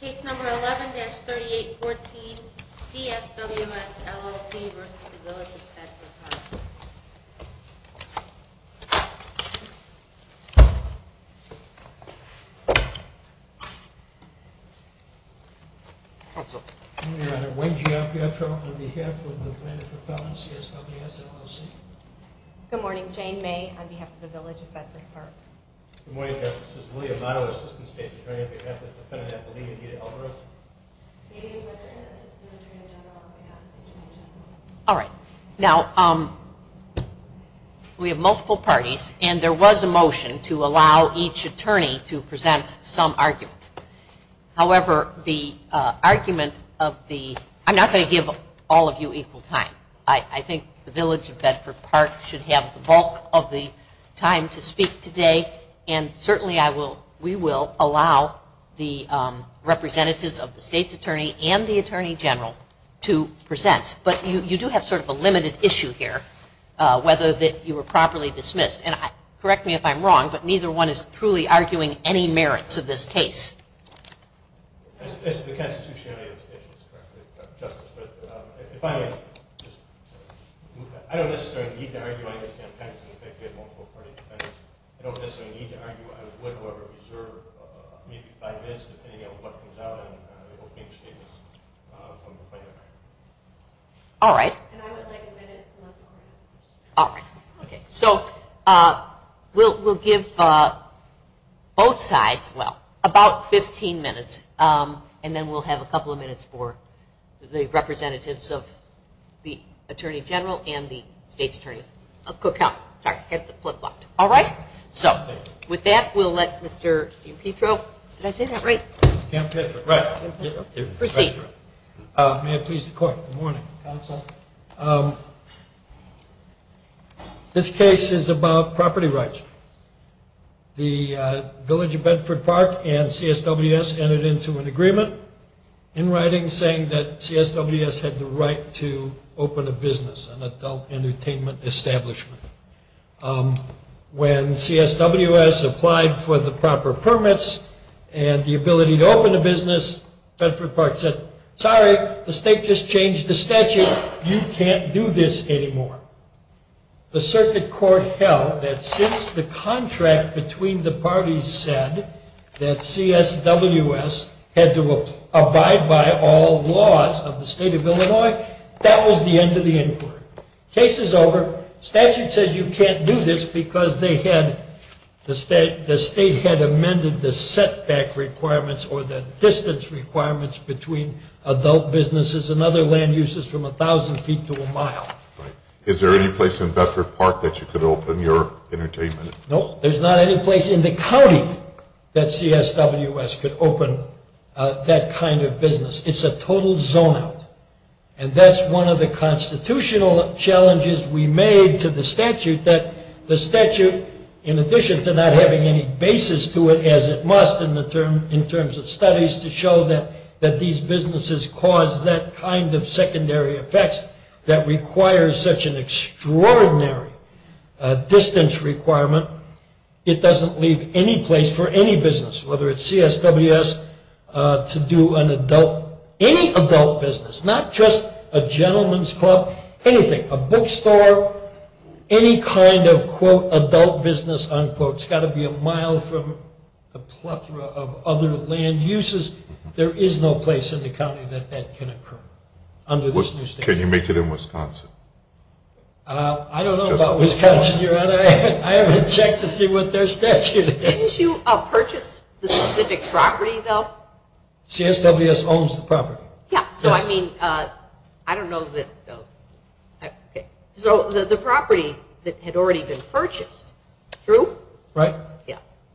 Case number 11-3814, CSWS, LLC v. Village of Bedford Park Good morning Your Honor, Wayne G. Apietro on behalf of the Planned Propellant, CSWS, LLC Good morning, Jane May on behalf of the Village of Bedford Park Good morning, Justice. This is William Otto, Assistant State's Attorney on behalf of the defendant at the lien, Edith Alvarez Amy Weather, Assistant Attorney General on behalf of the Attorney General And certainly we will allow the representatives of the State's Attorney and the Attorney General to present, but you do have sort of a limited issue here, whether that you were properly dismissed. And correct me if I'm wrong, but neither one is truly arguing any merits of this case. I don't necessarily need to argue against the defendants. I would however reserve maybe five minutes depending on what comes out in the opening statements from the Planned Parenthood. All right. So we'll give both sides, well, about 15 minutes and then we'll have a couple of minutes for the representatives of the Attorney General and the State's Attorney. All right. So with that, we'll let Mr. Apietro, did I say that right? The Village of Bedford Park and CSWS entered into an agreement in writing saying that CSWS had the right to open a business, an adult entertainment establishment. When CSWS applied for the proper permits and the ability to open a business, Bedford Park said, sorry, the State just changed the statute. You can't do this anymore. The circuit court held that since the contract between the parties said that CSWS had to abide by all laws of the State of Illinois, that was the end of the inquiry. Case is over. Statute says you can't do this because the State had amended the setback requirements or the distance requirements between adult businesses and other land uses from 1,000 feet to a mile. Is there any place in Bedford Park that you could open your entertainment? No, there's not any place in the county that CSWS could open that kind of business. It's a total zone out. And that's one of the constitutional challenges we made to the statute that the statute, in addition to not having any basis to it as it must in terms of studies to show that these businesses cause that kind of secondary effects that requires such an extraordinary distance requirement, it doesn't leave any place for any business, whether it's CSWS, to do any adult business, not just a gentleman's club, anything, a bookstore, any kind of quote adult business, unquote. It's got to be a mile from a plethora of other land uses. There is no place in the county that that can occur under this new statute. Can you make it in Wisconsin? I don't know about Wisconsin, Your Honor. I haven't checked to see what their statute is. Didn't you purchase the specific property, though? CSWS owns the property. Yeah, so I mean, I don't know that, though. So the property that had already been purchased, true? Right.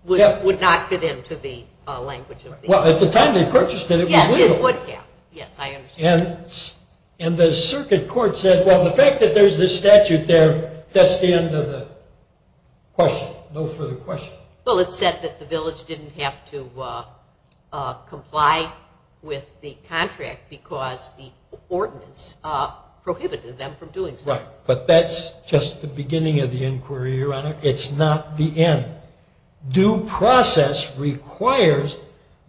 Yeah, would not fit into the language of the statute. Well, at the time they purchased it, it was legal. Yes, it would have. Yes, I understand. And the circuit court said, well, the fact that there's this statute there, that's the end of the question. No further questions. Well, it said that the village didn't have to comply with the contract because the ordinance prohibited them from doing so. Right, but that's just the beginning of the inquiry, Your Honor. It's not the end. Due process requires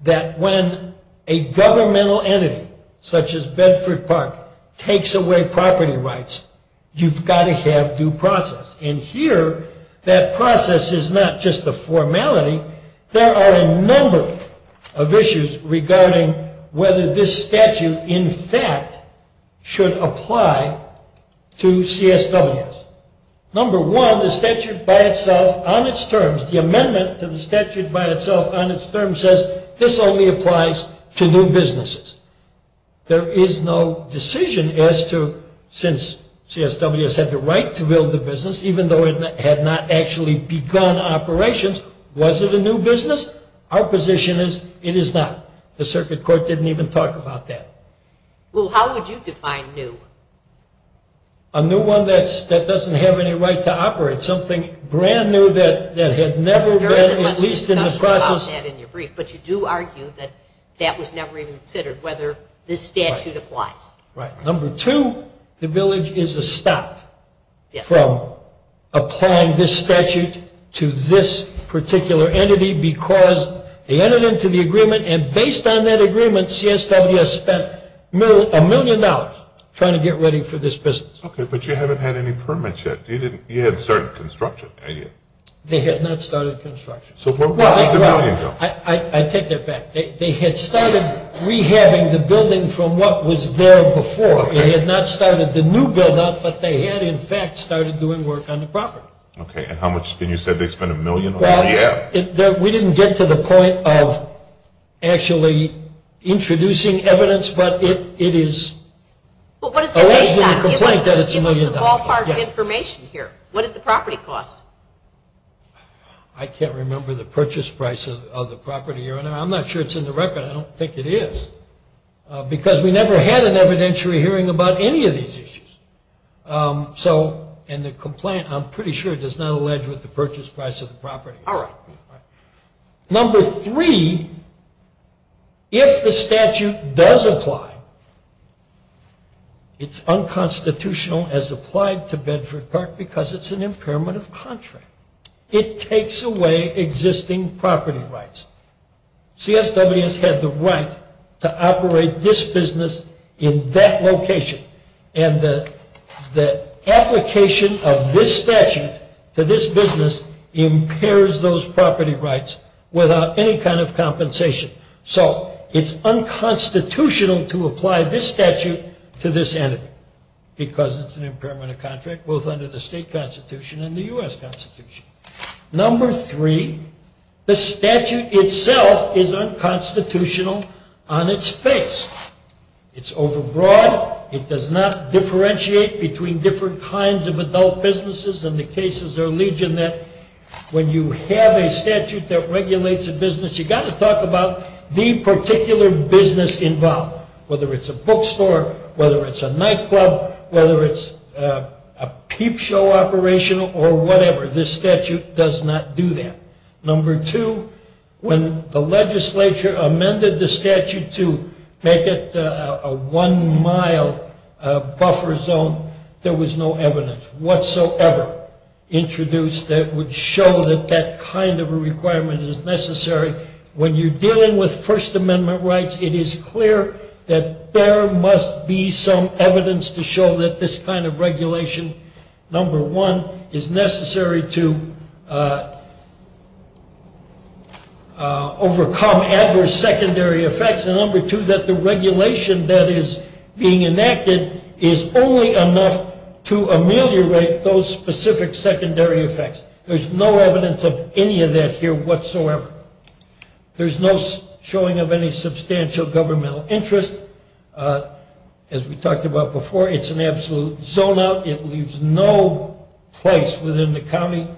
that when a governmental entity, such as Bedford Park, takes away property rights, you've got to have due process. And here, that process is not just a formality. There are a number of issues regarding whether this statute, in fact, should apply to CSWS. Number one, the statute by itself, on its terms, the amendment to the statute by itself, on its terms, says this only applies to new businesses. There is no decision as to, since CSWS had the right to build the business, even though it had not actually begun operations, was it a new business? Our position is it is not. The circuit court didn't even talk about that. Well, how would you define new? A new one that doesn't have any right to operate. Something brand new that had never been, at least in the process. But you do argue that that was never even considered, whether this statute applies. Right. Number two, the village is stopped from applying this statute to this particular entity because they entered into the agreement, and based on that agreement, CSWS spent a million dollars trying to get ready for this business. Okay, but you haven't had any permits yet. You hadn't started construction, had you? They had not started construction. So where did the million go? I take that back. They had started rehabbing the building from what was there before. They had not started the new buildup, but they had, in fact, started doing work on the property. Okay, and how much, and you said they spent a million on rehab? Well, we didn't get to the point of actually introducing evidence, but it is alleged in the complaint that it's a million dollars. Give us some ballpark information here. What did the property cost? I can't remember the purchase price of the property. I'm not sure it's in the record. I don't think it is, because we never had an evidentiary hearing about any of these issues. So in the complaint, I'm pretty sure it does not allege what the purchase price of the property is. All right. Number three, if the statute does apply, it's unconstitutional as applied to Bedford Park because it's an impairment of contract. It takes away existing property rights. CSWS had the right to operate this business in that location, and the application of this statute to this business impairs those property rights without any kind of compensation. So it's unconstitutional to apply this statute to this entity because it's an impairment of contract, both under the state constitution and the U.S. Constitution. Number three, the statute itself is unconstitutional on its face. It's overbroad. It does not differentiate between different kinds of adult businesses, and the cases are legion that when you have a statute that regulates a business, you've got to talk about the particular business involved, whether it's a bookstore, whether it's a nightclub, whether it's a peep show operation, or whatever. This statute does not do that. Number two, when the legislature amended the statute to make it a one-mile buffer zone, there was no evidence whatsoever introduced that would show that that kind of a requirement is necessary. When you're dealing with First Amendment rights, it is clear that there must be some evidence to show that this kind of regulation, number one, is necessary to overcome adverse secondary effects, and number two, that the regulation that is being enacted is only enough to ameliorate those specific secondary effects. There's no evidence of any of that here whatsoever. There's no showing of any substantial governmental interest. As we talked about before, it's an absolute zone-out. It leaves no place within the county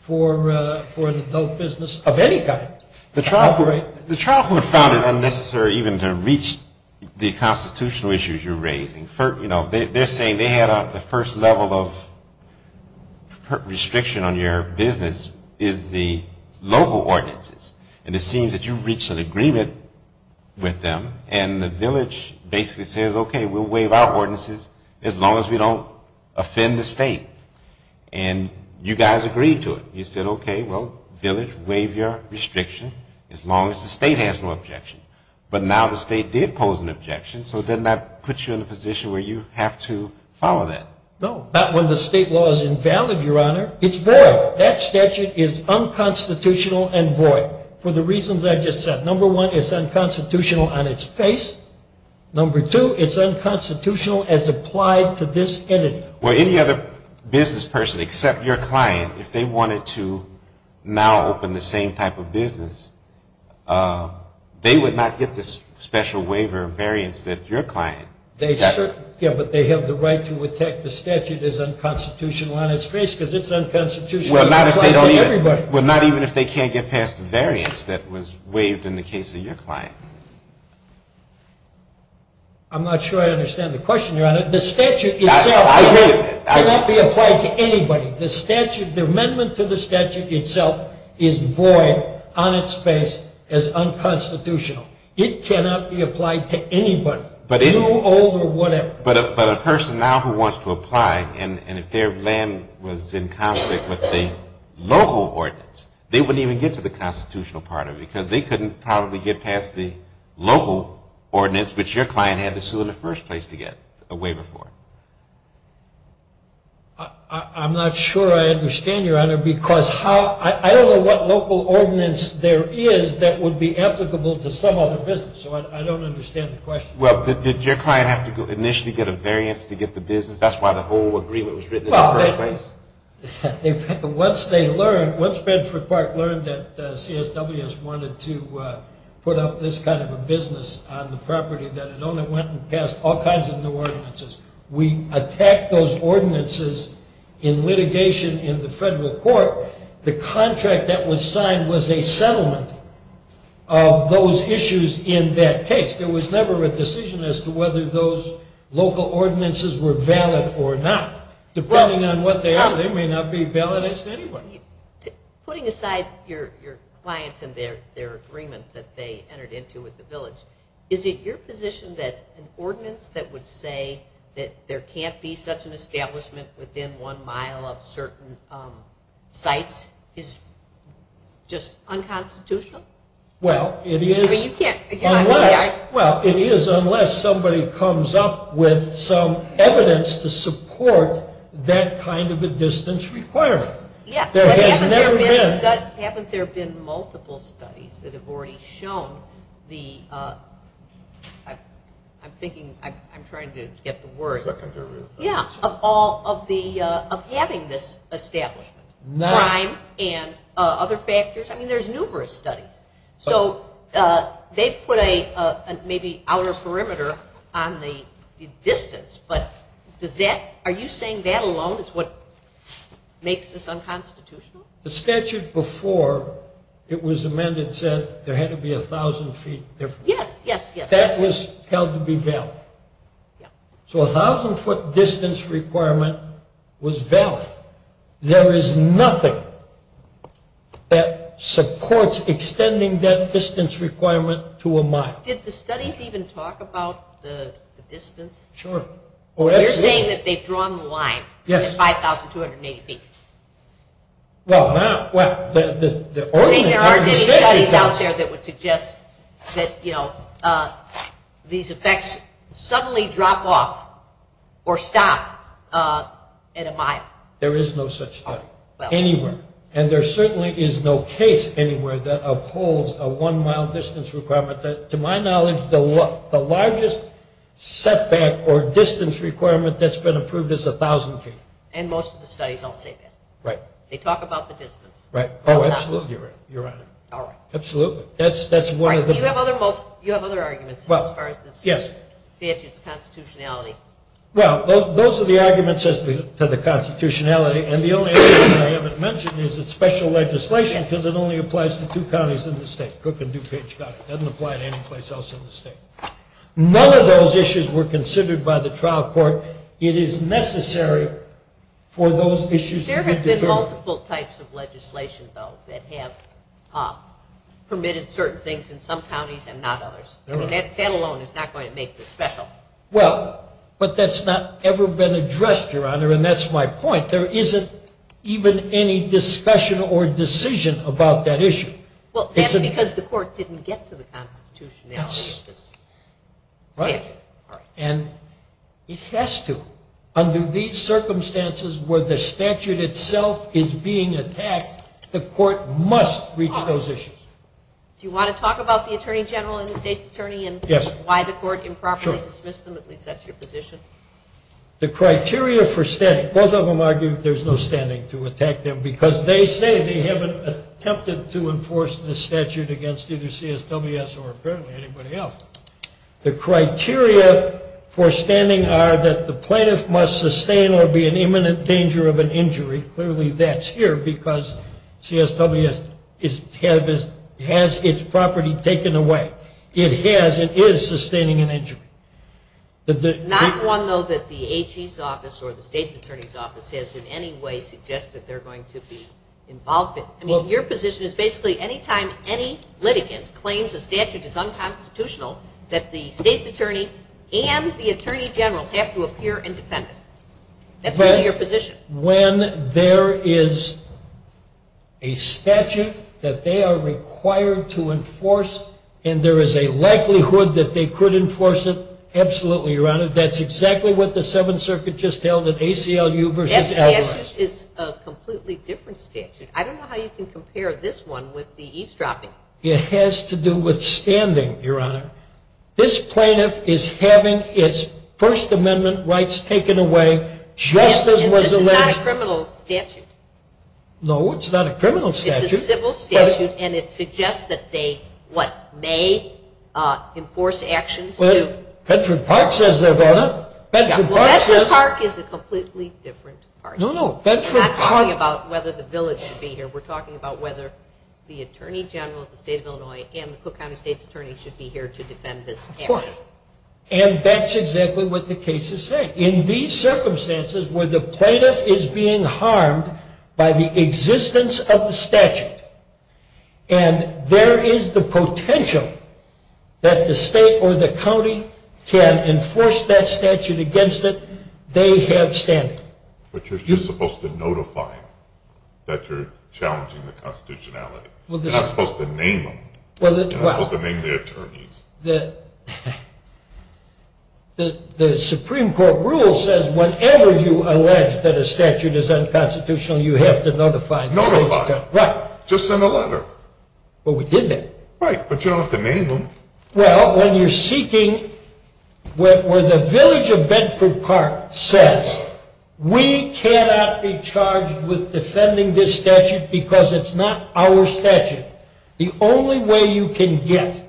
for an adult business of any kind to operate. The trial court found it unnecessary even to reach the constitutional issues you're raising. You know, they're saying they had the first level of restriction on your business is the local ordinances, and it seems that you reached an agreement with them, and the village basically says, okay, we'll waive our ordinances as long as we don't offend the state. And you guys agreed to it. You said, okay, well, village, waive your restriction as long as the state has no objection. But now the state did pose an objection, so it does not put you in a position where you have to follow that. No, not when the state law is invalid, Your Honor. It's void. That statute is unconstitutional and void for the reasons I just said. Number one, it's unconstitutional on its face. Number two, it's unconstitutional as applied to this entity. Well, any other business person except your client, if they wanted to now open the same type of business, they would not get this special waiver of variance that your client got. Yeah, but they have the right to attack the statute as unconstitutional on its face because it's unconstitutional as applied to everybody. Well, not even if they can't get past the variance that was waived in the case of your client. I'm not sure I understand the question, Your Honor. The statute itself cannot be applied to anybody. The amendment to the statute itself is void on its face as unconstitutional. It cannot be applied to anybody. New, old, or whatever. But a person now who wants to apply, and if their land was in conflict with the local ordinance, they wouldn't even get to the constitutional part of it because they couldn't probably get past the local ordinance, which your client had to sue in the first place to get a waiver for. I'm not sure I understand, Your Honor, because I don't know what local ordinance there is that would be applicable to some other business. So I don't understand the question. Well, did your client have to initially get a variance to get the business? That's why the whole agreement was written in the first place? Well, once they learned, once Bedford Park learned that CSWS wanted to put up this kind of a business on the property that it only went and passed all kinds of new ordinances, we attacked those ordinances in litigation in the federal court. The contract that was signed was a settlement of those issues in that case. There was never a decision as to whether those local ordinances were valid or not. Depending on what they are, they may not be valid as to anyone. Putting aside your clients and their agreement that they entered into with the village, is it your position that an ordinance that would say that there can't be such an establishment within one mile of certain sites is just unconstitutional? Well, it is unless somebody comes up with some evidence to support that kind of a distance requirement. Yeah, but haven't there been multiple studies that have already shown the, I'm thinking, I'm trying to get the word, yeah, of having this establishment, crime and other factors. I mean, there's numerous studies. So they've put a maybe outer perimeter on the distance, but does that, are you saying that alone is what makes this unconstitutional? The statute before it was amended said there had to be a thousand feet difference. Yes, yes, yes. That was held to be valid. So a thousand foot distance requirement was valid. There is nothing that supports extending that distance requirement to a mile. Did the studies even talk about the distance? Sure. You're saying that they've drawn the line at 5,280 feet. Well, now, the ordinance doesn't say that. See, there aren't any studies out there that would suggest that, you know, these effects suddenly drop off or stop at a mile. There is no such thing anywhere. And there certainly is no case anywhere that upholds a one-mile distance requirement. To my knowledge, the largest setback or distance requirement that's been approved is a thousand feet. And most of the studies don't say that. Right. They talk about the distance. Right. Oh, absolutely, Your Honor. All right. Absolutely. You have other arguments as far as the statute's constitutionality. Well, those are the arguments as to the constitutionality, and the only other thing I haven't mentioned is it's special legislation because it only applies to two counties in the state, Cook and DuPage County. It doesn't apply to any place else in the state. None of those issues were considered by the trial court. It is necessary for those issues to be determined. There have been multiple types of legislation, though, that have permitted certain things in some counties and not others. I mean, that alone is not going to make this special. Well, but that's not ever been addressed, Your Honor, and that's my point. There isn't even any discussion or decision about that issue. Well, that's because the court didn't get to the constitutionality of this statute. Right. And it has to. Under these circumstances where the statute itself is being attacked, the court must reach those issues. Do you want to talk about the attorney general and the state's attorney and why the court improperly dismissed them? At least that's your position. The criteria for standing, both of them argue there's no standing to attack them because they say they haven't attempted to enforce the statute against either CSWS or apparently anybody else. The criteria for standing are that the plaintiff must sustain or be in imminent danger of an injury. Clearly that's here because CSWS has its property taken away. It has and is sustaining an injury. Not one, though, that the AG's office or the state's attorney's office has in any way suggested they're going to be involved in. Your position is basically any time any litigant claims a statute is unconstitutional that the state's attorney and the attorney general have to appear and defend it. That's really your position. When there is a statute that they are required to enforce and there is a likelihood that they could enforce it, absolutely, Your Honor. That's exactly what the Seventh Circuit just held at ACLU versus Adler. That statute is a completely different statute. I don't know how you can compare this one with the eavesdropping. It has to do with standing, Your Honor. This plaintiff is having its First Amendment rights taken away just as was alleged. This is not a criminal statute. No, it's not a criminal statute. It's a civil statute, and it suggests that they, what, may enforce actions to Bedford Park says they're going to. Well, Bedford Park is a completely different party. No, no. We're not talking about whether the village should be here. We're talking about whether the attorney general of the state of Illinois and the Cook County State's attorney should be here to defend this statute. Of course, and that's exactly what the case is saying. In these circumstances where the plaintiff is being harmed by the existence of the statute and there is the potential that the state or the county can enforce that statute against it, they have standing. But you're supposed to notify that you're challenging the constitutionality. You're not supposed to name them. You're not supposed to name the attorneys. The Supreme Court rule says whenever you allege that a statute is unconstitutional, you have to notify. Notify. Right. Just send a letter. Well, we did that. Right, but you don't have to name them. Well, when you're seeking where the village of Bedford Park says, we cannot be charged with defending this statute because it's not our statute. The only way you can get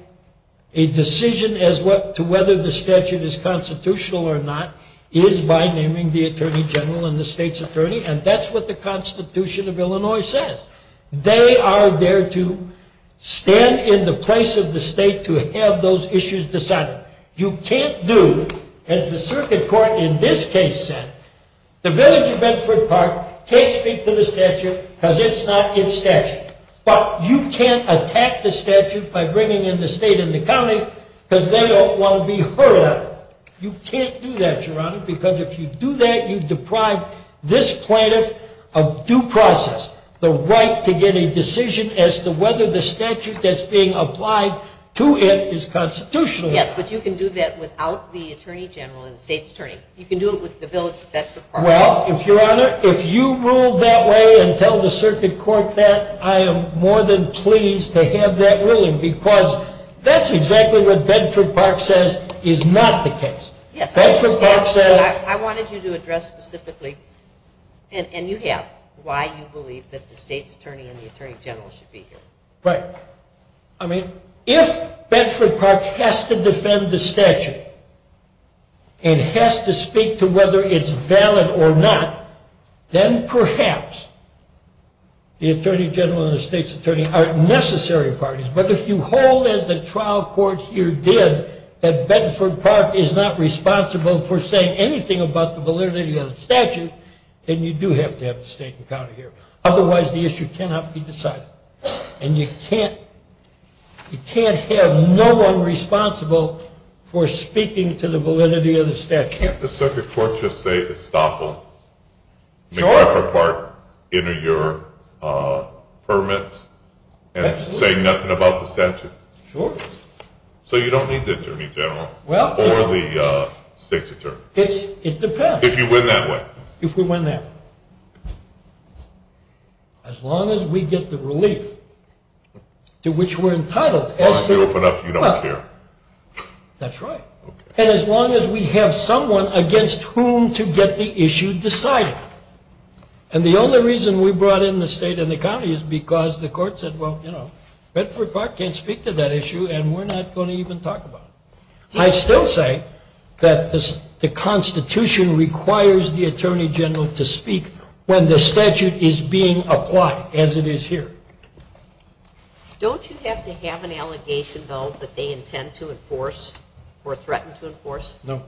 a decision as to whether the statute is constitutional or not is by naming the attorney general and the state's attorney, and that's what the Constitution of Illinois says. They are there to stand in the place of the state to have those issues decided. You can't do, as the circuit court in this case said, the village of Bedford Park can't speak to the statute because it's not its statute. But you can't attack the statute by bringing in the state and the county because they don't want to be heard of it. You can't do that, Your Honor, because if you do that, you deprive this plaintiff of due process, the right to get a decision as to whether the statute that's being applied to it is constitutional or not. Yes, but you can do that without the attorney general and the state's attorney. You can do it with the village of Bedford Park. Well, Your Honor, if you rule that way and tell the circuit court that, I am more than pleased to have that ruling because that's exactly what Bedford Park says is not the case. I wanted you to address specifically, and you have, why you believe that the state's attorney and the attorney general should be here. Right. I mean, if Bedford Park has to defend the statute and has to speak to whether it's valid or not, then perhaps the attorney general and the state's attorney are necessary parties. But if you hold, as the trial court here did, that Bedford Park is not responsible for saying anything about the validity of the statute, then you do have to have the state and county here. Otherwise, the issue cannot be decided. And you can't have no one responsible for speaking to the validity of the statute. Can't the circuit court just say, Bedford Park, enter your permits and say nothing about the statute. Sure. So you don't need the attorney general or the state's attorney. It depends. If you win that way. If we win that way. As long as we get the relief to which we're entitled. As long as you open up, you don't care. That's right. And as long as we have someone against whom to get the issue decided. And the only reason we brought in the state and the county is because the court said, well, you know, Bedford Park can't speak to that issue and we're not going to even talk about it. I still say that the Constitution requires the attorney general to speak when the statute is being applied, as it is here. Don't you have to have an allegation, though, that they intend to enforce or threaten to enforce? No.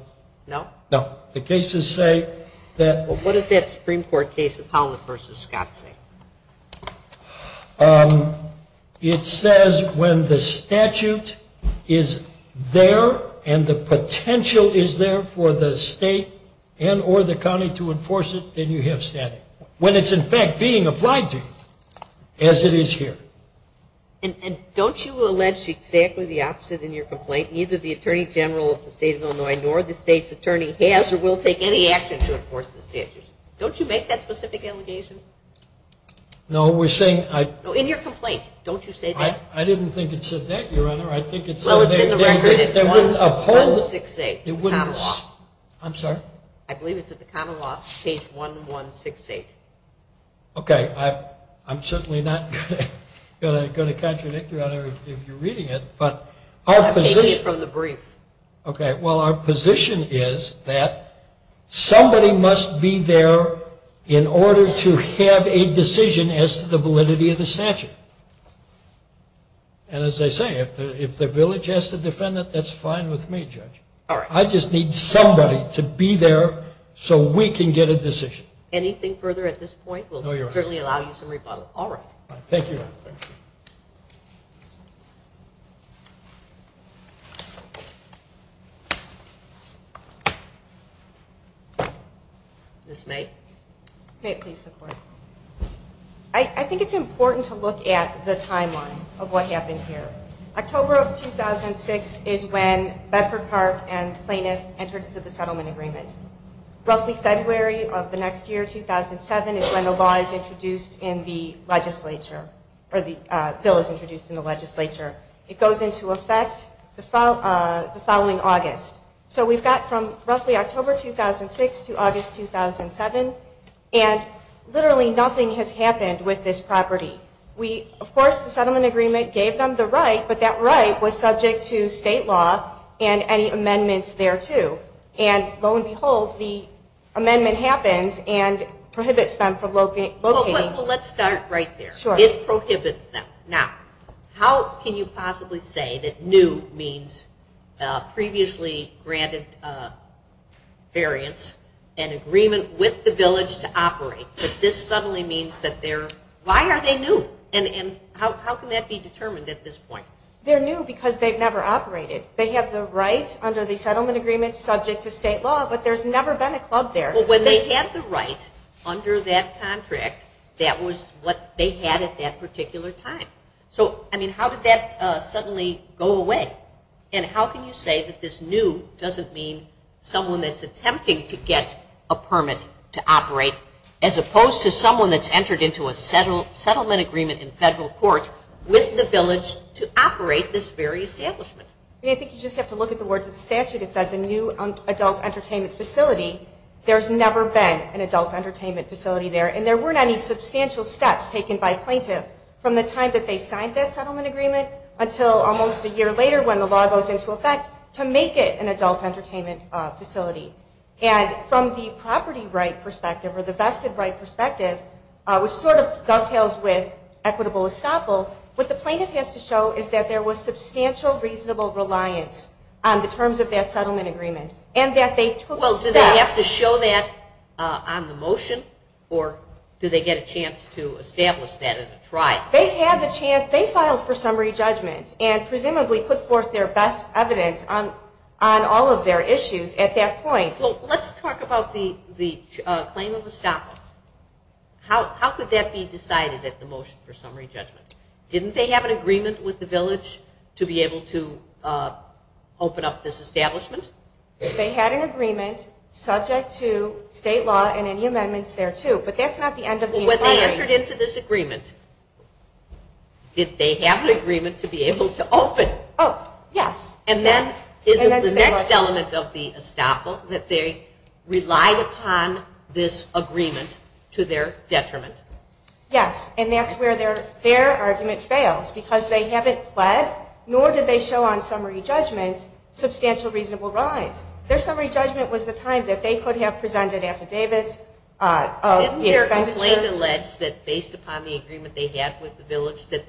No? No. The cases say that. What does that Supreme Court case of Holland v. Scott say? It says when the statute is there and the potential is there for the state and or the county to enforce it, then you have standing. When it's, in fact, being applied to you, as it is here. And don't you allege exactly the opposite in your complaint? Neither the attorney general of the state of Illinois nor the state's attorney has or will take any action to enforce the statute. Don't you make that specific allegation? No. In your complaint, don't you say that? I didn't think it said that, Your Honor. Well, it's in the record at 168, the common law. I'm sorry? I believe it's at the common law, page 1168. Okay. I'm certainly not going to contradict you, Your Honor, if you're reading it. I'm taking it from the brief. Okay. Well, our position is that somebody must be there in order to have a decision as to the validity of the statute. And as I say, if the village has to defend it, that's fine with me, Judge. All right. I just need somebody to be there so we can get a decision. Anything further at this point? No, Your Honor. We'll certainly allow you some rebuttal. All right. Thank you, Your Honor. Thank you. Ms. May? May it please the Court? I think it's important to look at the timeline of what happened here. October of 2006 is when Bedford-Carp and Plaintiff entered into the settlement agreement. Roughly February of the next year, 2007, is when the law is introduced in the legislature, or the bill is introduced in the legislature. It goes into effect the following August. So we've got from roughly October 2006 to August 2007, and literally nothing has happened with this property. Of course, the settlement agreement gave them the right, but that right was subject to state law and any amendments thereto. And lo and behold, the amendment happens and prohibits them from locating. Well, let's start right there. It prohibits them. Now, how can you possibly say that new means previously granted variance and agreement with the village to operate, but this suddenly means that they're, why are they new? And how can that be determined at this point? They're new because they've never operated. They have the right under the settlement agreement subject to state law, but there's never been a club there. Well, when they had the right under that contract, that was what they had at that particular time. So, I mean, how did that suddenly go away? And how can you say that this new doesn't mean someone that's attempting to get a permit to operate as opposed to someone that's entered into a settlement agreement in federal court with the village to operate this very establishment? I mean, I think you just have to look at the words of the statute. It says a new adult entertainment facility. There's never been an adult entertainment facility there, and there weren't any substantial steps taken by a plaintiff from the time that they signed that settlement agreement until almost a year later when the law goes into effect to make it an adult entertainment facility. And from the property right perspective or the vested right perspective, which sort of dovetails with equitable estoppel, what the plaintiff has to show is that there was substantial reasonable reliance on the terms of that settlement agreement and that they took steps. Well, do they have to show that on the motion, or do they get a chance to establish that in a trial? They had the chance. They filed for summary judgment and presumably put forth their best evidence on all of their issues at that point. So let's talk about the claim of estoppel. How could that be decided at the motion for summary judgment? Didn't they have an agreement with the village to be able to open up this establishment? They had an agreement subject to state law and any amendments thereto, but that's not the end of the inquiry. Well, when they entered into this agreement, did they have an agreement to be able to open? Oh, yes. And then is it the next element of the estoppel that they relied upon this agreement to their detriment? Yes, and that's where their argument fails, because they haven't pled nor did they show on summary judgment substantial reasonable reliance. Their summary judgment was the time that they could have presented affidavits of the expenditures. Isn't the complaint alleged that based upon the agreement they had with the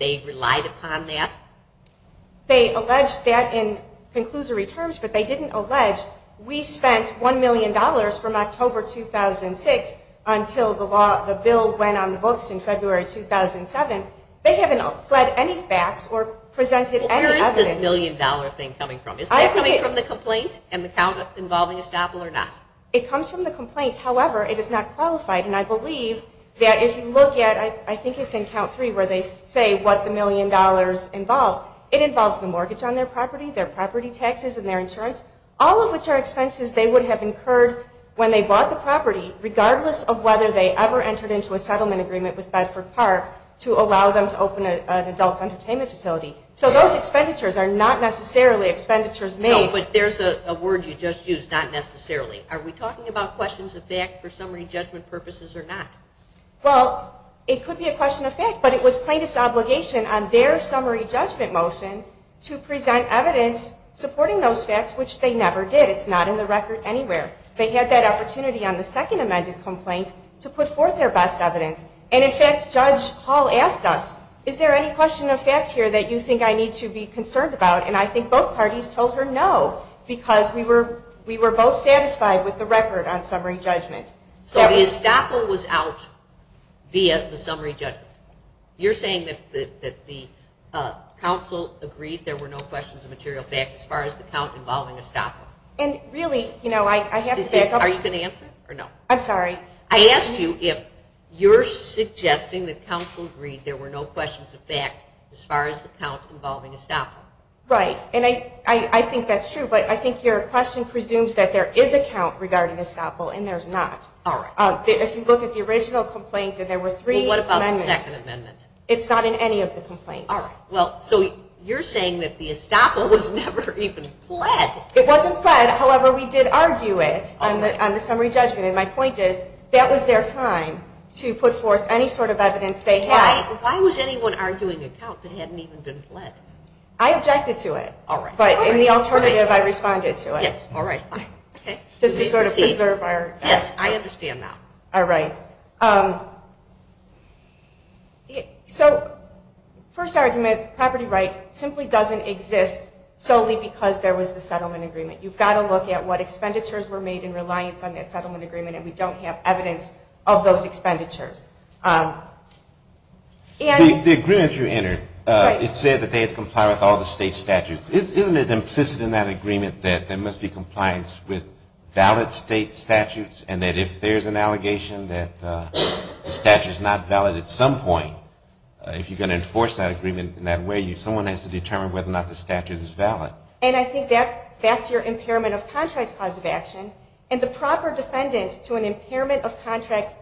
They alleged that in conclusory terms, but they didn't allege, we spent $1 million from October 2006 until the bill went on the books in February 2007. They haven't pled any facts or presented any evidence. Where is this million-dollar thing coming from? Is that coming from the complaint and the count involving estoppel or not? It comes from the complaint. However, it is not qualified, and I believe that if you look at, I think it's in count three where they say what the million dollars involves, it involves the mortgage on their property, their property taxes and their insurance, all of which are expenses they would have incurred when they bought the property regardless of whether they ever entered into a settlement agreement with Bedford Park to allow them to open an adult entertainment facility. So those expenditures are not necessarily expenditures made. No, but there's a word you just used, not necessarily. Are we talking about questions of fact for summary judgment purposes or not? Well, it could be a question of fact, but it was plaintiff's obligation on their summary judgment motion to present evidence supporting those facts, which they never did. It's not in the record anywhere. They had that opportunity on the second amended complaint to put forth their best evidence. And, in fact, Judge Hall asked us, is there any question of fact here that you think I need to be concerned about, and I think both parties told her no because we were both satisfied with the record on summary judgment. So the estoppel was out via the summary judgment. You're saying that the counsel agreed there were no questions of material fact as far as the count involving estoppel. And really, you know, I have to back up. Are you going to answer or no? I'm sorry. I asked you if you're suggesting that counsel agreed there were no questions of fact as far as the count involving estoppel. Right, and I think that's true, but I think your question presumes that there is a count regarding estoppel and there's not. All right. If you look at the original complaint and there were three amendments. Well, what about the second amendment? It's not in any of the complaints. All right. Well, so you're saying that the estoppel was never even pled. It wasn't pled. However, we did argue it on the summary judgment, and my point is that was their time to put forth any sort of evidence they had. Why was anyone arguing a count that hadn't even been pled? I objected to it. All right. But in the alternative, I responded to it. Yes. All right. Does this sort of preserve our rights? Yes, I understand now. All right. So first argument, property right simply doesn't exist solely because there was the settlement agreement. You've got to look at what expenditures were made in reliance on that settlement agreement, and we don't have evidence of those expenditures. The agreement you entered, it said that they had complied with all the state statutes. Isn't it implicit in that agreement that there must be compliance with valid state statutes and that if there's an allegation that the statute is not valid at some point, if you're going to enforce that agreement in that way, someone has to determine whether or not the statute is valid. And I think that's your impairment of contract cause of action, and the proper defendant to an impairment of contract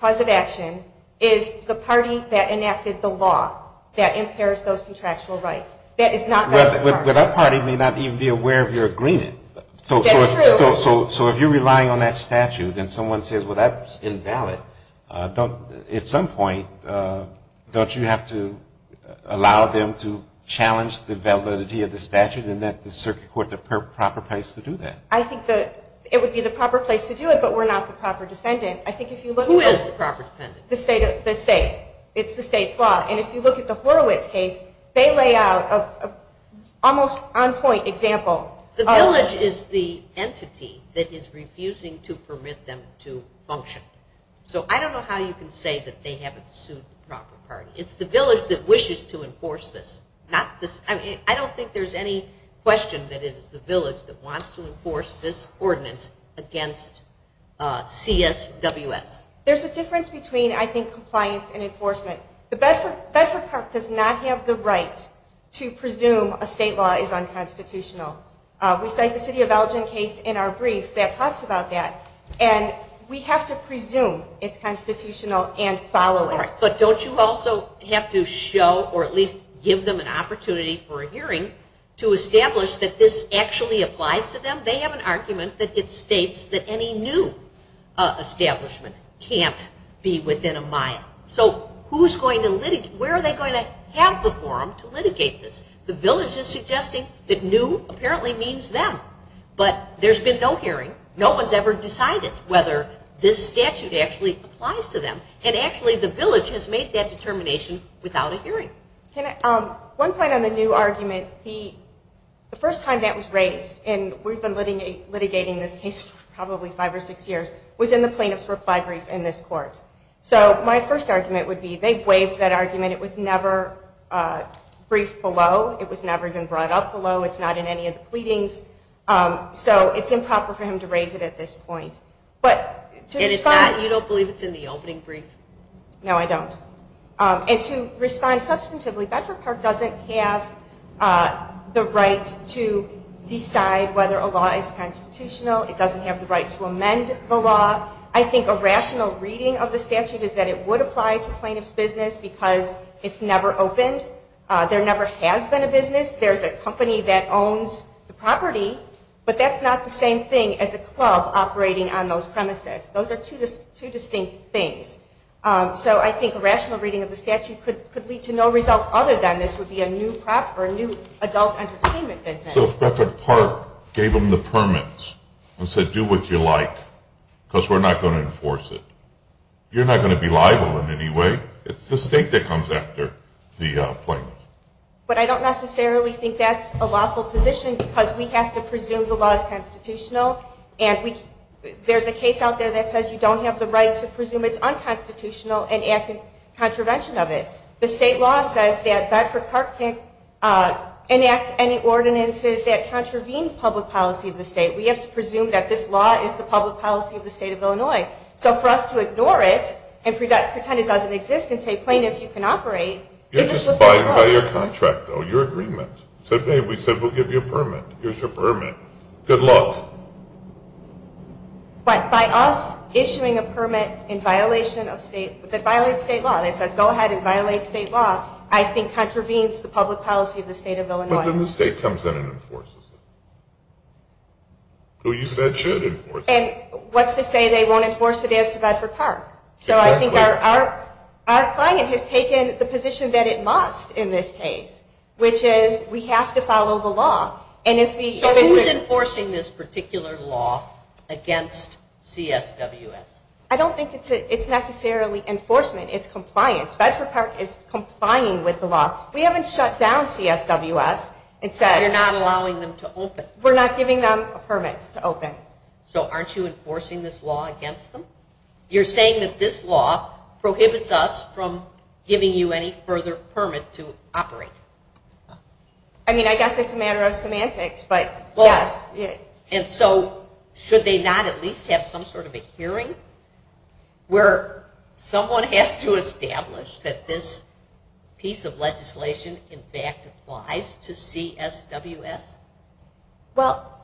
cause of action is the party that enacted the law that impairs those contractual rights. That is not that party. Well, that party may not even be aware of your agreement. That's true. So if you're relying on that statute and someone says, well, that's invalid, at some point don't you have to allow them to challenge the validity of the statute and let the circuit court the proper place to do that? I think that it would be the proper place to do it, but we're not the proper defendant. Who is the proper defendant? The state. It's the state's law. And if you look at the Horowitz case, they lay out an almost on point example. The village is the entity that is refusing to permit them to function. So I don't know how you can say that they haven't sued the proper party. It's the village that wishes to enforce this. I don't think there's any question that it is the village that wants to enforce this ordinance against CSWS. There's a difference between, I think, compliance and enforcement. Bedford Park does not have the right to presume a state law is unconstitutional. We cite the city of Elgin case in our brief that talks about that. And we have to presume it's constitutional and follow it. But don't you also have to show or at least give them an opportunity for a hearing to establish that this actually applies to them? They have an argument that it states that any new establishment can't be within a mile. So where are they going to have the forum to litigate this? The village is suggesting that new apparently means them. But there's been no hearing. No one's ever decided whether this statute actually applies to them. And actually the village has made that determination without a hearing. One point on the new argument, the first time that was raised, and we've been litigating this case probably five or six years, was in the plaintiff's reply brief in this court. So my first argument would be they waived that argument. It was never briefed below. It was never even brought up below. It's not in any of the pleadings. So it's improper for him to raise it at this point. And you don't believe it's in the opening brief? No, I don't. And to respond substantively, Bedford Park doesn't have the right to decide whether a law is constitutional. It doesn't have the right to amend the law. I think a rational reading of the statute is that it would apply to plaintiff's business because it's never opened. There never has been a business. There's a company that owns the property, but that's not the same thing as a club operating on those premises. Those are two distinct things. So I think a rational reading of the statute could lead to no result other than this would be a new adult entertainment business. So Bedford Park gave them the permits and said, do what you like because we're not going to enforce it. You're not going to be liable in any way. It's the state that comes after the plaintiff. But I don't necessarily think that's a lawful position because we have to presume the law is constitutional. And there's a case out there that says you don't have the right to presume it's unconstitutional and act in contravention of it. The state law says that Bedford Park can't enact any ordinances that contravene public policy of the state. We have to presume that this law is the public policy of the state of Illinois. So for us to ignore it and pretend it doesn't exist and say plaintiff, you can operate is a slip in the snow. You're just buying by your contract, though, your agreement. We said we'll give you a permit. Here's your permit. Good luck. But by us issuing a permit that violates state law that says go ahead and violate state law I think contravenes the public policy of the state of Illinois. But then the state comes in and enforces it. Who you said should enforce it. And what's to say they won't enforce it as to Bedford Park? So I think our client has taken the position that it must in this case, which is we have to follow the law. So who's enforcing this particular law against CSWS? I don't think it's necessarily enforcement. It's compliance. Bedford Park is complying with the law. We haven't shut down CSWS. You're not allowing them to open. We're not giving them a permit to open. So aren't you enforcing this law against them? You're saying that this law prohibits us from giving you any further permit to operate. I mean, I guess it's a matter of semantics. And so should they not at least have some sort of a hearing where someone has to establish that this piece of legislation, in fact, applies to CSWS? Well,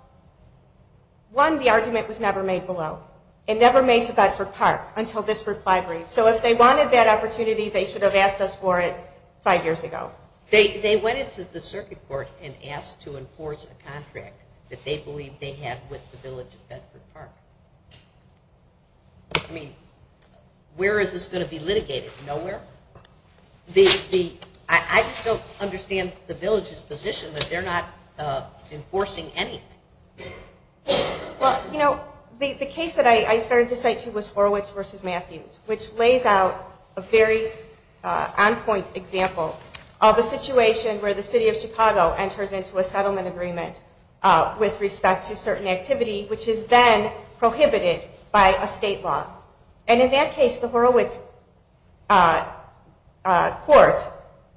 one, the argument was never made below. It never made to Bedford Park until this reply brief. So if they wanted that opportunity, they should have asked us for it five years ago. They went into the circuit court and asked to enforce a contract that they believe they have with the village of Bedford Park. I mean, where is this going to be litigated? Nowhere? I just don't understand the village's position that they're not enforcing anything. Well, you know, the case that I started to cite to was Horowitz v. Matthews, which lays out a very on-point example of a situation where the city of Chicago enters into a settlement agreement with respect to certain activity, which is then prohibited by a state law. And in that case, the Horowitz court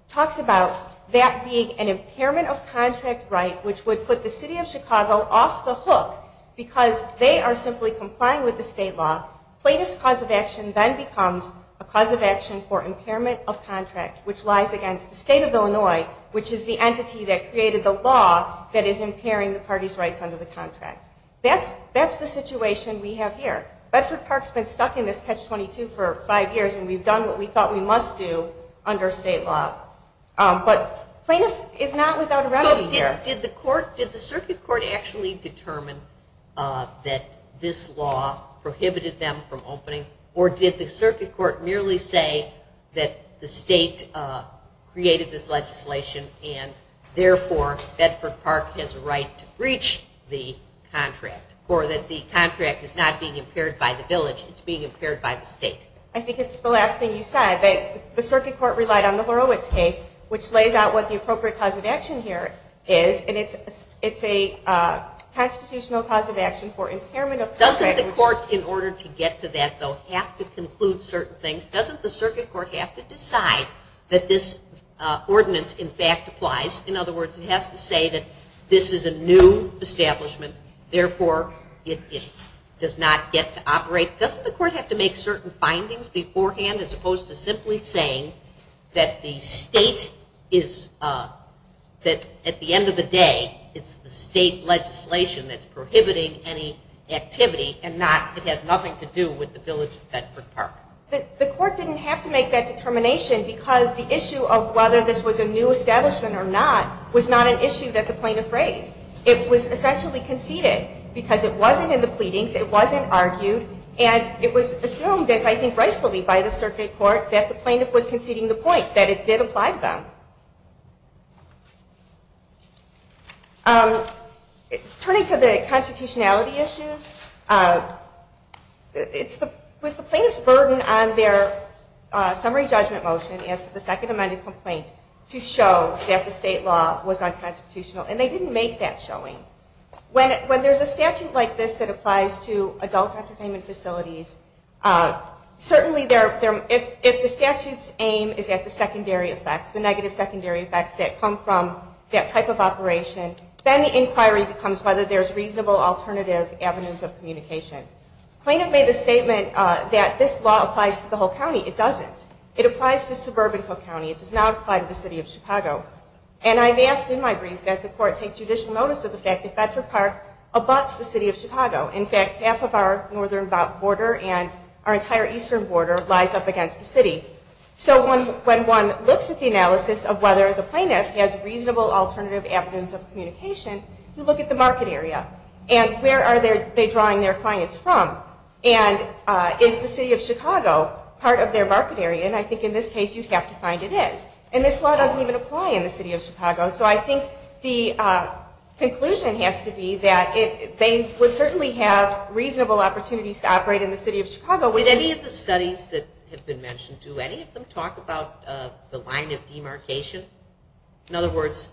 talks about that being an impairment of contract right, which would put the city of Chicago off the hook because they are simply complying with the state law. Plaintiff's cause of action then becomes a cause of action for impairment of contract, which lies against the state of Illinois, which is the entity that that's the situation we have here. Bedford Park's been stuck in this catch-22 for five years, and we've done what we thought we must do under state law. But plaintiff is not without a remedy here. So did the circuit court actually determine that this law prohibited them from opening, or did the circuit court merely say that the state created this contract, or that the contract is not being impaired by the village, it's being impaired by the state? I think it's the last thing you said. The circuit court relied on the Horowitz case, which lays out what the appropriate cause of action here is, and it's a constitutional cause of action for impairment of contract. Doesn't the court, in order to get to that, though, have to conclude certain things? Doesn't the circuit court have to decide that this ordinance, in fact, applies? In other words, it has to say that this is a new establishment, therefore, it does not get to operate. Doesn't the court have to make certain findings beforehand as opposed to simply saying that the state is, that at the end of the day, it's the state legislation that's prohibiting any activity, and not it has nothing to do with the village of Bedford Park? The court didn't have to make that determination because the issue of whether this was a new establishment or not was not an issue that the plaintiff raised. It was essentially conceded because it wasn't in the pleadings, it wasn't argued, and it was assumed, as I think rightfully by the circuit court, that the plaintiff was conceding the point, that it did apply to them. Turning to the constitutionality issues, it was the plaintiff's burden on their summary judgment motion as to the second amended complaint to show that the state law was unconstitutional, and they didn't make that showing. When there's a statute like this that applies to adult entertainment facilities, certainly if the statute's aim is at the secondary effects, the negative secondary effects that come from that type of operation, then the inquiry becomes whether there's reasonable alternative avenues of communication. Plaintiff made the statement that this law applies to the whole county. It doesn't. It applies to suburban Cook County. It does not apply to the city of Chicago. And I've asked in my brief that the court take judicial notice of the fact that Bedford Park abuts the city of Chicago. In fact, half of our northern border and our entire eastern border lies up against the city. So when one looks at the analysis of whether the plaintiff has reasonable alternative avenues of communication, you look at the market area and where are they drawing their clients from, and is the city of Chicago part of their market area? And I think in this case you'd have to find it is. And this law doesn't even apply in the city of Chicago. So I think the conclusion has to be that they would certainly have reasonable opportunities to operate in the city of Chicago. With any of the studies that have been mentioned, do any of them talk about the line of demarcation? In other words,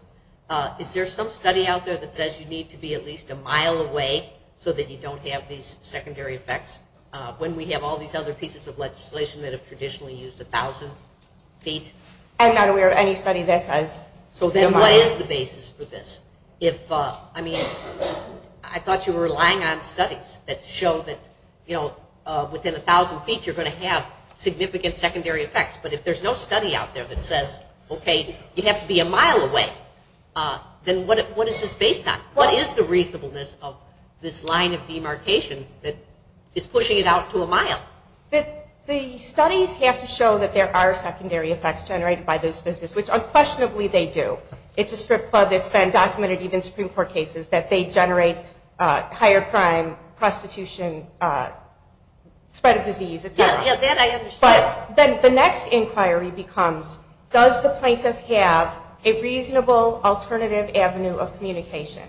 is there some study out there that says you need to be at a mile away so that you don't have these secondary effects? When we have all these other pieces of legislation that have traditionally used 1,000 feet. I'm not aware of any study that says. So then what is the basis for this? I mean, I thought you were relying on studies that show that, you know, within 1,000 feet you're going to have significant secondary effects. But if there's no study out there that says, okay, you have to be a mile away, then what is this based on? What is the reasonableness of this line of demarcation that is pushing it out to a mile? The studies have to show that there are secondary effects generated by those businesses, which unquestionably they do. It's a strip club that's been documented even in Supreme Court cases that they generate higher crime, prostitution, spread of disease, et cetera. Yeah, that I understand. But then the next inquiry becomes, does the plaintiff have a reasonable alternative avenue of communication?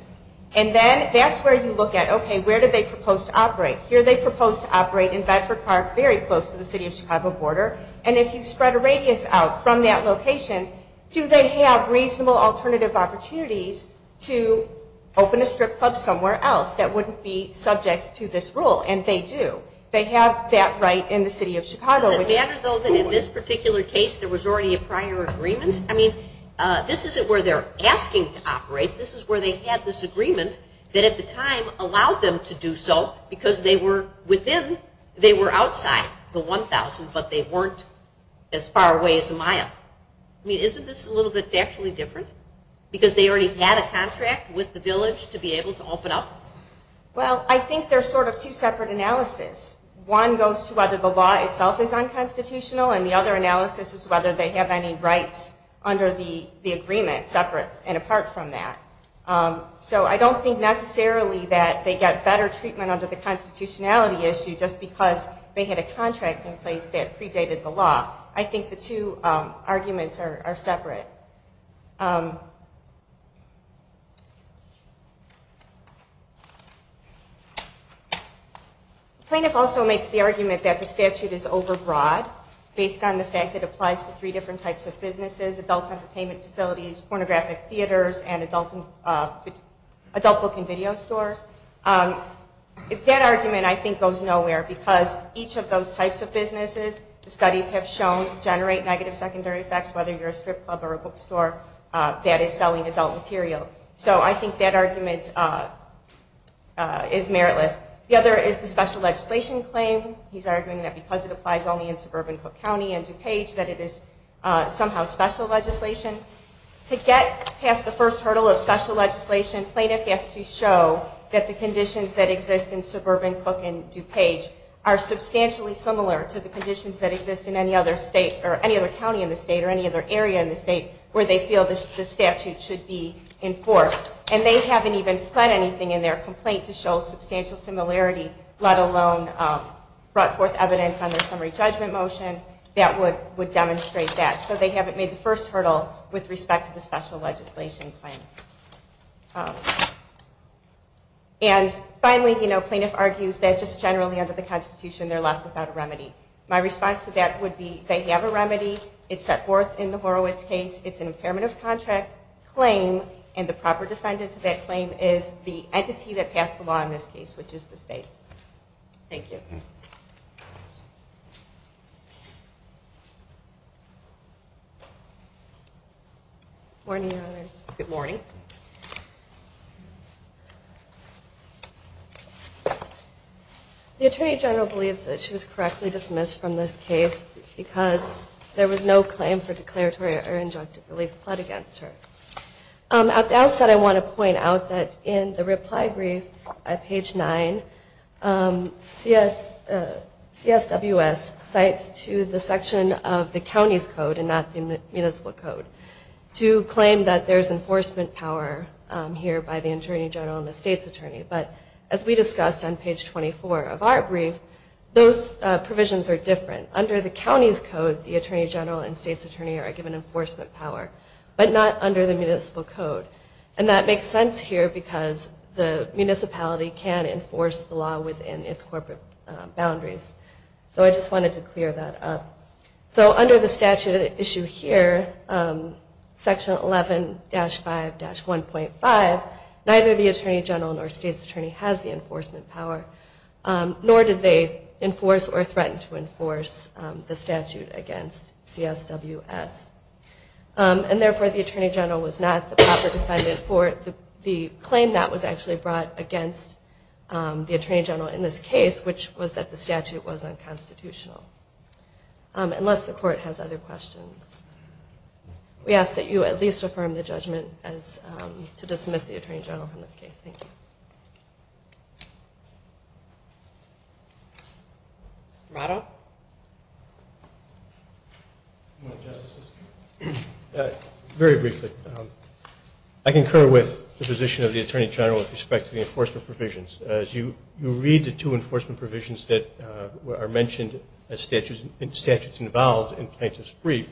And then that's where you look at, okay, where do they propose to operate? Here they propose to operate in Bedford Park, very close to the city of Chicago border. And if you spread a radius out from that location, do they have reasonable alternative opportunities to open a strip club somewhere else that wouldn't be subject to this rule? And they do. They have that right in the city of Chicago. Does it matter, though, that in this particular case there was already a prior agreement? And, I mean, this isn't where they're asking to operate. This is where they had this agreement that at the time allowed them to do so because they were within, they were outside the 1,000, but they weren't as far away as a mile. I mean, isn't this a little bit factually different because they already had a contract with the village to be able to open up? Well, I think there's sort of two separate analysis. One goes to whether the law itself is unconstitutional, and the other analysis is whether they have any rights under the agreement separate and apart from that. So I don't think necessarily that they get better treatment under the constitutionality issue just because they had a contract in place that predated the law. I think the two arguments are separate. The plaintiff also makes the argument that the statute is overbroad based on the fact that it applies to three different types of businesses, adult entertainment facilities, pornographic theaters, and adult book and video stores. That argument, I think, goes nowhere because each of those types of businesses, studies have shown, generate negative secondary effects, whether you're a strip club or a bookstore that is selling adult material. So I think that argument is meritless. The other is the special legislation claim. He's arguing that because it applies only in suburban Cook County and DuPage, that it is somehow special legislation. To get past the first hurdle of special legislation, plaintiff has to show that the conditions that exist in suburban Cook and DuPage are substantially similar to the conditions that exist in any other county in the state or any other area in the state where they feel the statute should be enforced. And they haven't even put anything in their complaint to show substantial similarity, let alone brought forth evidence on their summary judgment motion that would demonstrate that. So they haven't made the first hurdle with respect to the special legislation claim. And finally, plaintiff argues that just generally under the constitution, they're left without a remedy. My response to that would be they have a remedy. It's set forth in the Horowitz case. It's an impairment of contract claim. And the proper defendant to that claim is the entity that passed the law in this case, which is the state. Thank you. Morning, Your Honors. Good morning. The Attorney General believes that she was correctly dismissed from this case because there was no claim for declaratory or injunctive relief applied against her. At the outset, I want to point out that in the reply brief at page 9, CSWS cites to the section of the county's code and not the municipal code to claim that there's enforcement power here by the Attorney General and the state's attorney. But as we discussed on page 24 of our brief, those provisions are different. Under the county's code, the Attorney General and state's attorney are given enforcement power, but not under the municipal code. And that makes sense here because the municipality can enforce the law within its corporate boundaries. So I just wanted to clear that up. So under the statute at issue here, Section 11-5-1.5, neither the Attorney General nor state's attorney has the enforcement power, nor did they enforce or threaten to enforce the statute against CSWS. And therefore, the Attorney General was not the proper defendant for the claim that was actually brought against the Attorney General in this case, which was that the statute was unconstitutional. Unless the court has other questions. We ask that you at least affirm the judgment as to dismiss the Attorney General from this case. Thank you. Rado? Very briefly. I concur with the position of the Attorney General with respect to the enforcement provisions. As you read the two enforcement provisions that are mentioned as statutes involved in Plaintiff's Brief,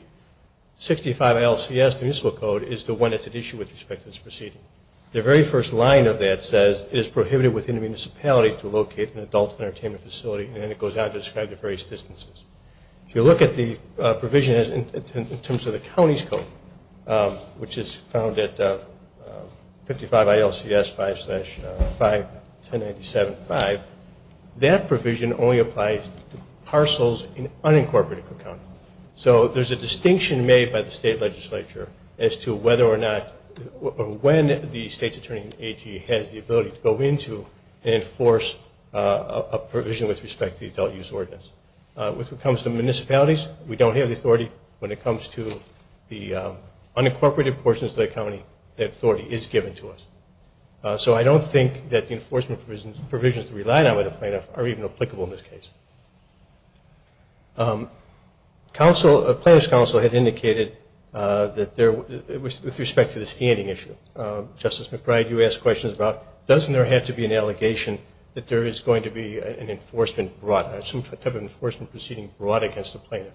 65 ILCS, the municipal code, is the one that's at issue with respect to this proceeding. The very first line of that says it is prohibited within the municipality to locate an adult entertainment facility. And then it goes on to describe the various distances. If you look at the provision in terms of the county's code, which is found at 55 ILCS 5-5-1097-5, that provision only applies to parcels in unincorporated county. So there's a distinction made by the state legislature as to whether or not or when the state's attorney in AG has the ability to go into and enforce a provision with respect to the adult use ordinance. When it comes to municipalities, we don't have the authority. When it comes to the unincorporated portions of the county, that authority is given to us. So I don't think that the enforcement provisions relied on by the plaintiff are even applicable in this case. Plaintiff's counsel had indicated with respect to the standing issue, Justice McBride, you asked questions about doesn't there have to be an allegation that there is going to be an enforcement brought, some type of enforcement proceeding brought against the plaintiff.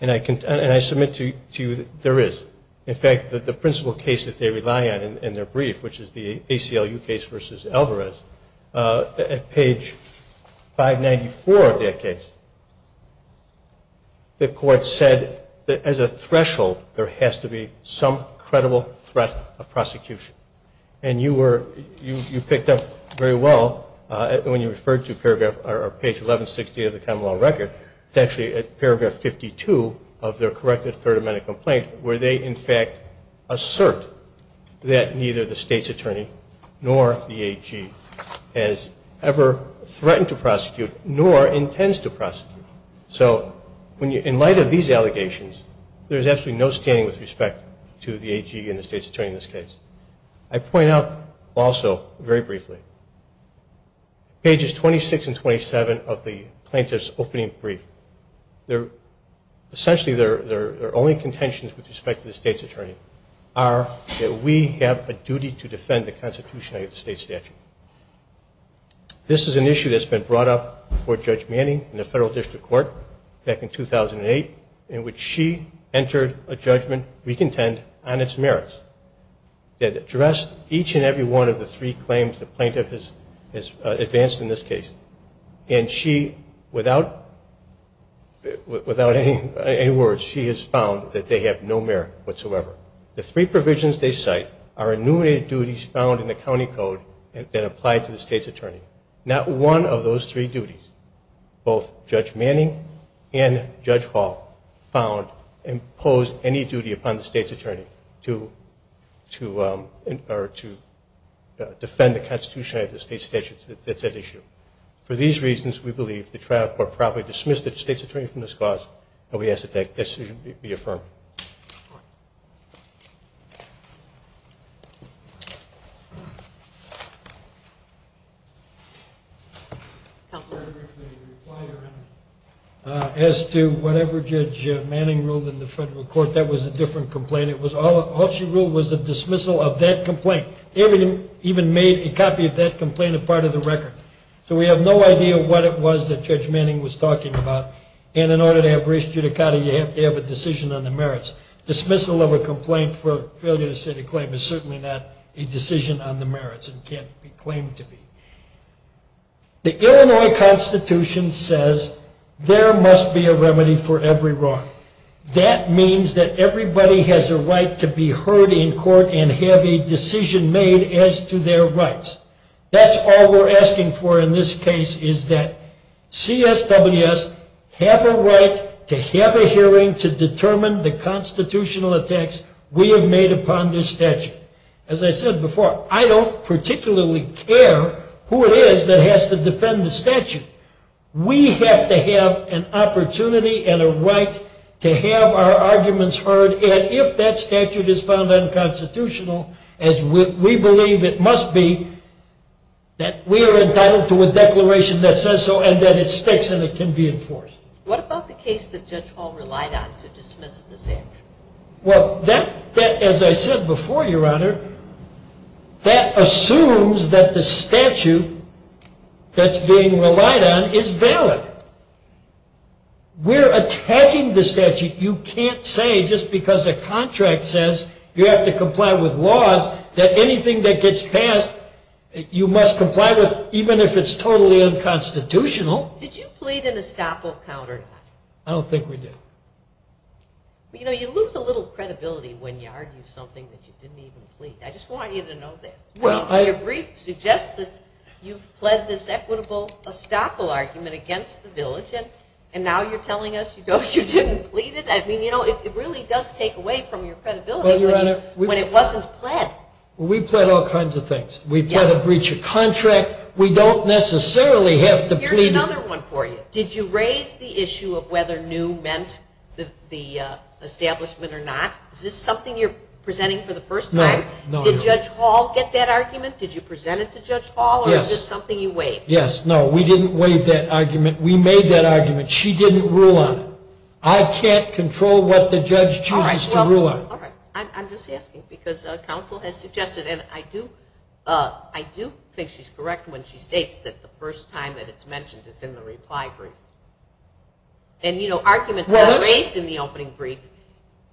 And I submit to you that there is. In fact, the principal case that they rely on in their brief, which is the ACLU case versus Alvarez, at page 594 of that case, the court said that as a threshold, there has to be some credible threat of prosecution. And you were, you picked up very well when you referred to paragraph, or two, of their corrected third amendment complaint, where they, in fact, assert that neither the state's attorney nor the AG has ever threatened to prosecute nor intends to prosecute. So in light of these allegations, there is absolutely no standing with respect to the AG and the state's attorney in this case. I point out also, very briefly, pages 26 and 27 of the plaintiff's opening brief, essentially their only contentions with respect to the state's attorney are that we have a duty to defend the constitution of the state statute. This is an issue that's been brought up before Judge Manning in the federal district court back in 2008, in which she entered a judgment we contend on its merits. It addressed each and every one of the three claims the plaintiff has made, and she, without any words, she has found that they have no merit whatsoever. The three provisions they cite are enumerated duties found in the county code that apply to the state's attorney. Not one of those three duties, both Judge Manning and Judge Hall found impose any duty upon the state's attorney to defend the constitution of the state statute. That's that issue. For these reasons, we believe the trial court probably dismissed the state's attorney from this cause, and we ask that that decision be affirmed. As to whatever Judge Manning ruled in the federal court, that was a different complaint. All she ruled was a dismissal of that complaint. David even made a copy of that complaint a part of the record. So we have no idea what it was that Judge Manning was talking about, and in order to have res judicata, you have to have a decision on the merits. Dismissal of a complaint for failure to set a claim is certainly not a decision on the merits and can't be claimed to be. The Illinois Constitution says there must be a remedy for every wrong. That means that everybody has a right to be heard in court and have a decision made as to their rights. That's all we're asking for in this case is that CSWS have a right to have a hearing to determine the constitutional attacks we have made upon this statute. As I said before, I don't particularly care who it is that has to defend the statute. We have to have an opportunity and a right to have our arguments heard, and if that statute is found unconstitutional, as we believe it must be, that we are entitled to a declaration that says so and that it sticks and it can be enforced. What about the case that Judge Hall relied on to dismiss the statute? Well, that, as I said before, Your Honor, that assumes that the statute that's being relied on is valid. We're attacking the statute. You can't say just because a contract says you have to comply with laws that anything that gets passed you must comply with, even if it's totally unconstitutional. Did you plead an estoppel count or not? I don't think we did. You know, you lose a little credibility when you argue something that you didn't even plead. I just want you to know that. Well, your brief suggests that you've pled this equitable estoppel argument against the village, and now you're telling us you didn't plead it? I mean, you know, it really does take away from your credibility when it wasn't pled. Well, we've pled all kinds of things. We've pled a breach of contract. We don't necessarily have to plead. Here's another one for you. Did you raise the issue of whether new meant the establishment or not? Is this something you're presenting for the first time? No. Did Judge Hall get that argument? Did you present it to Judge Hall? Yes. Or is this something you waived? Yes. No, we didn't waive that argument. We made that argument. She didn't rule on it. I can't control what the judge chooses to rule on. All right. I'm just asking because counsel has suggested, and I do think she's correct when she states that the first time that it's mentioned is in the reply brief. And, you know, arguments raised in the opening brief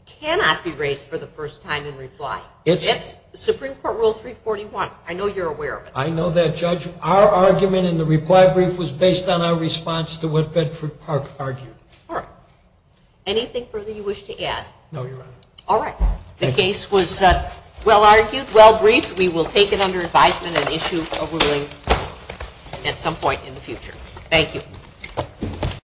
cannot be raised for the first time in reply. It's Supreme Court Rule 341. I know you're aware of it. I know that, Judge. Our argument in the reply brief was based on our response to what Bedford Park argued. All right. Anything further you wish to add? No, Your Honor. All right. The case was well argued, well briefed. We will take it under advisement and issue a ruling at some point in the future. Thank you.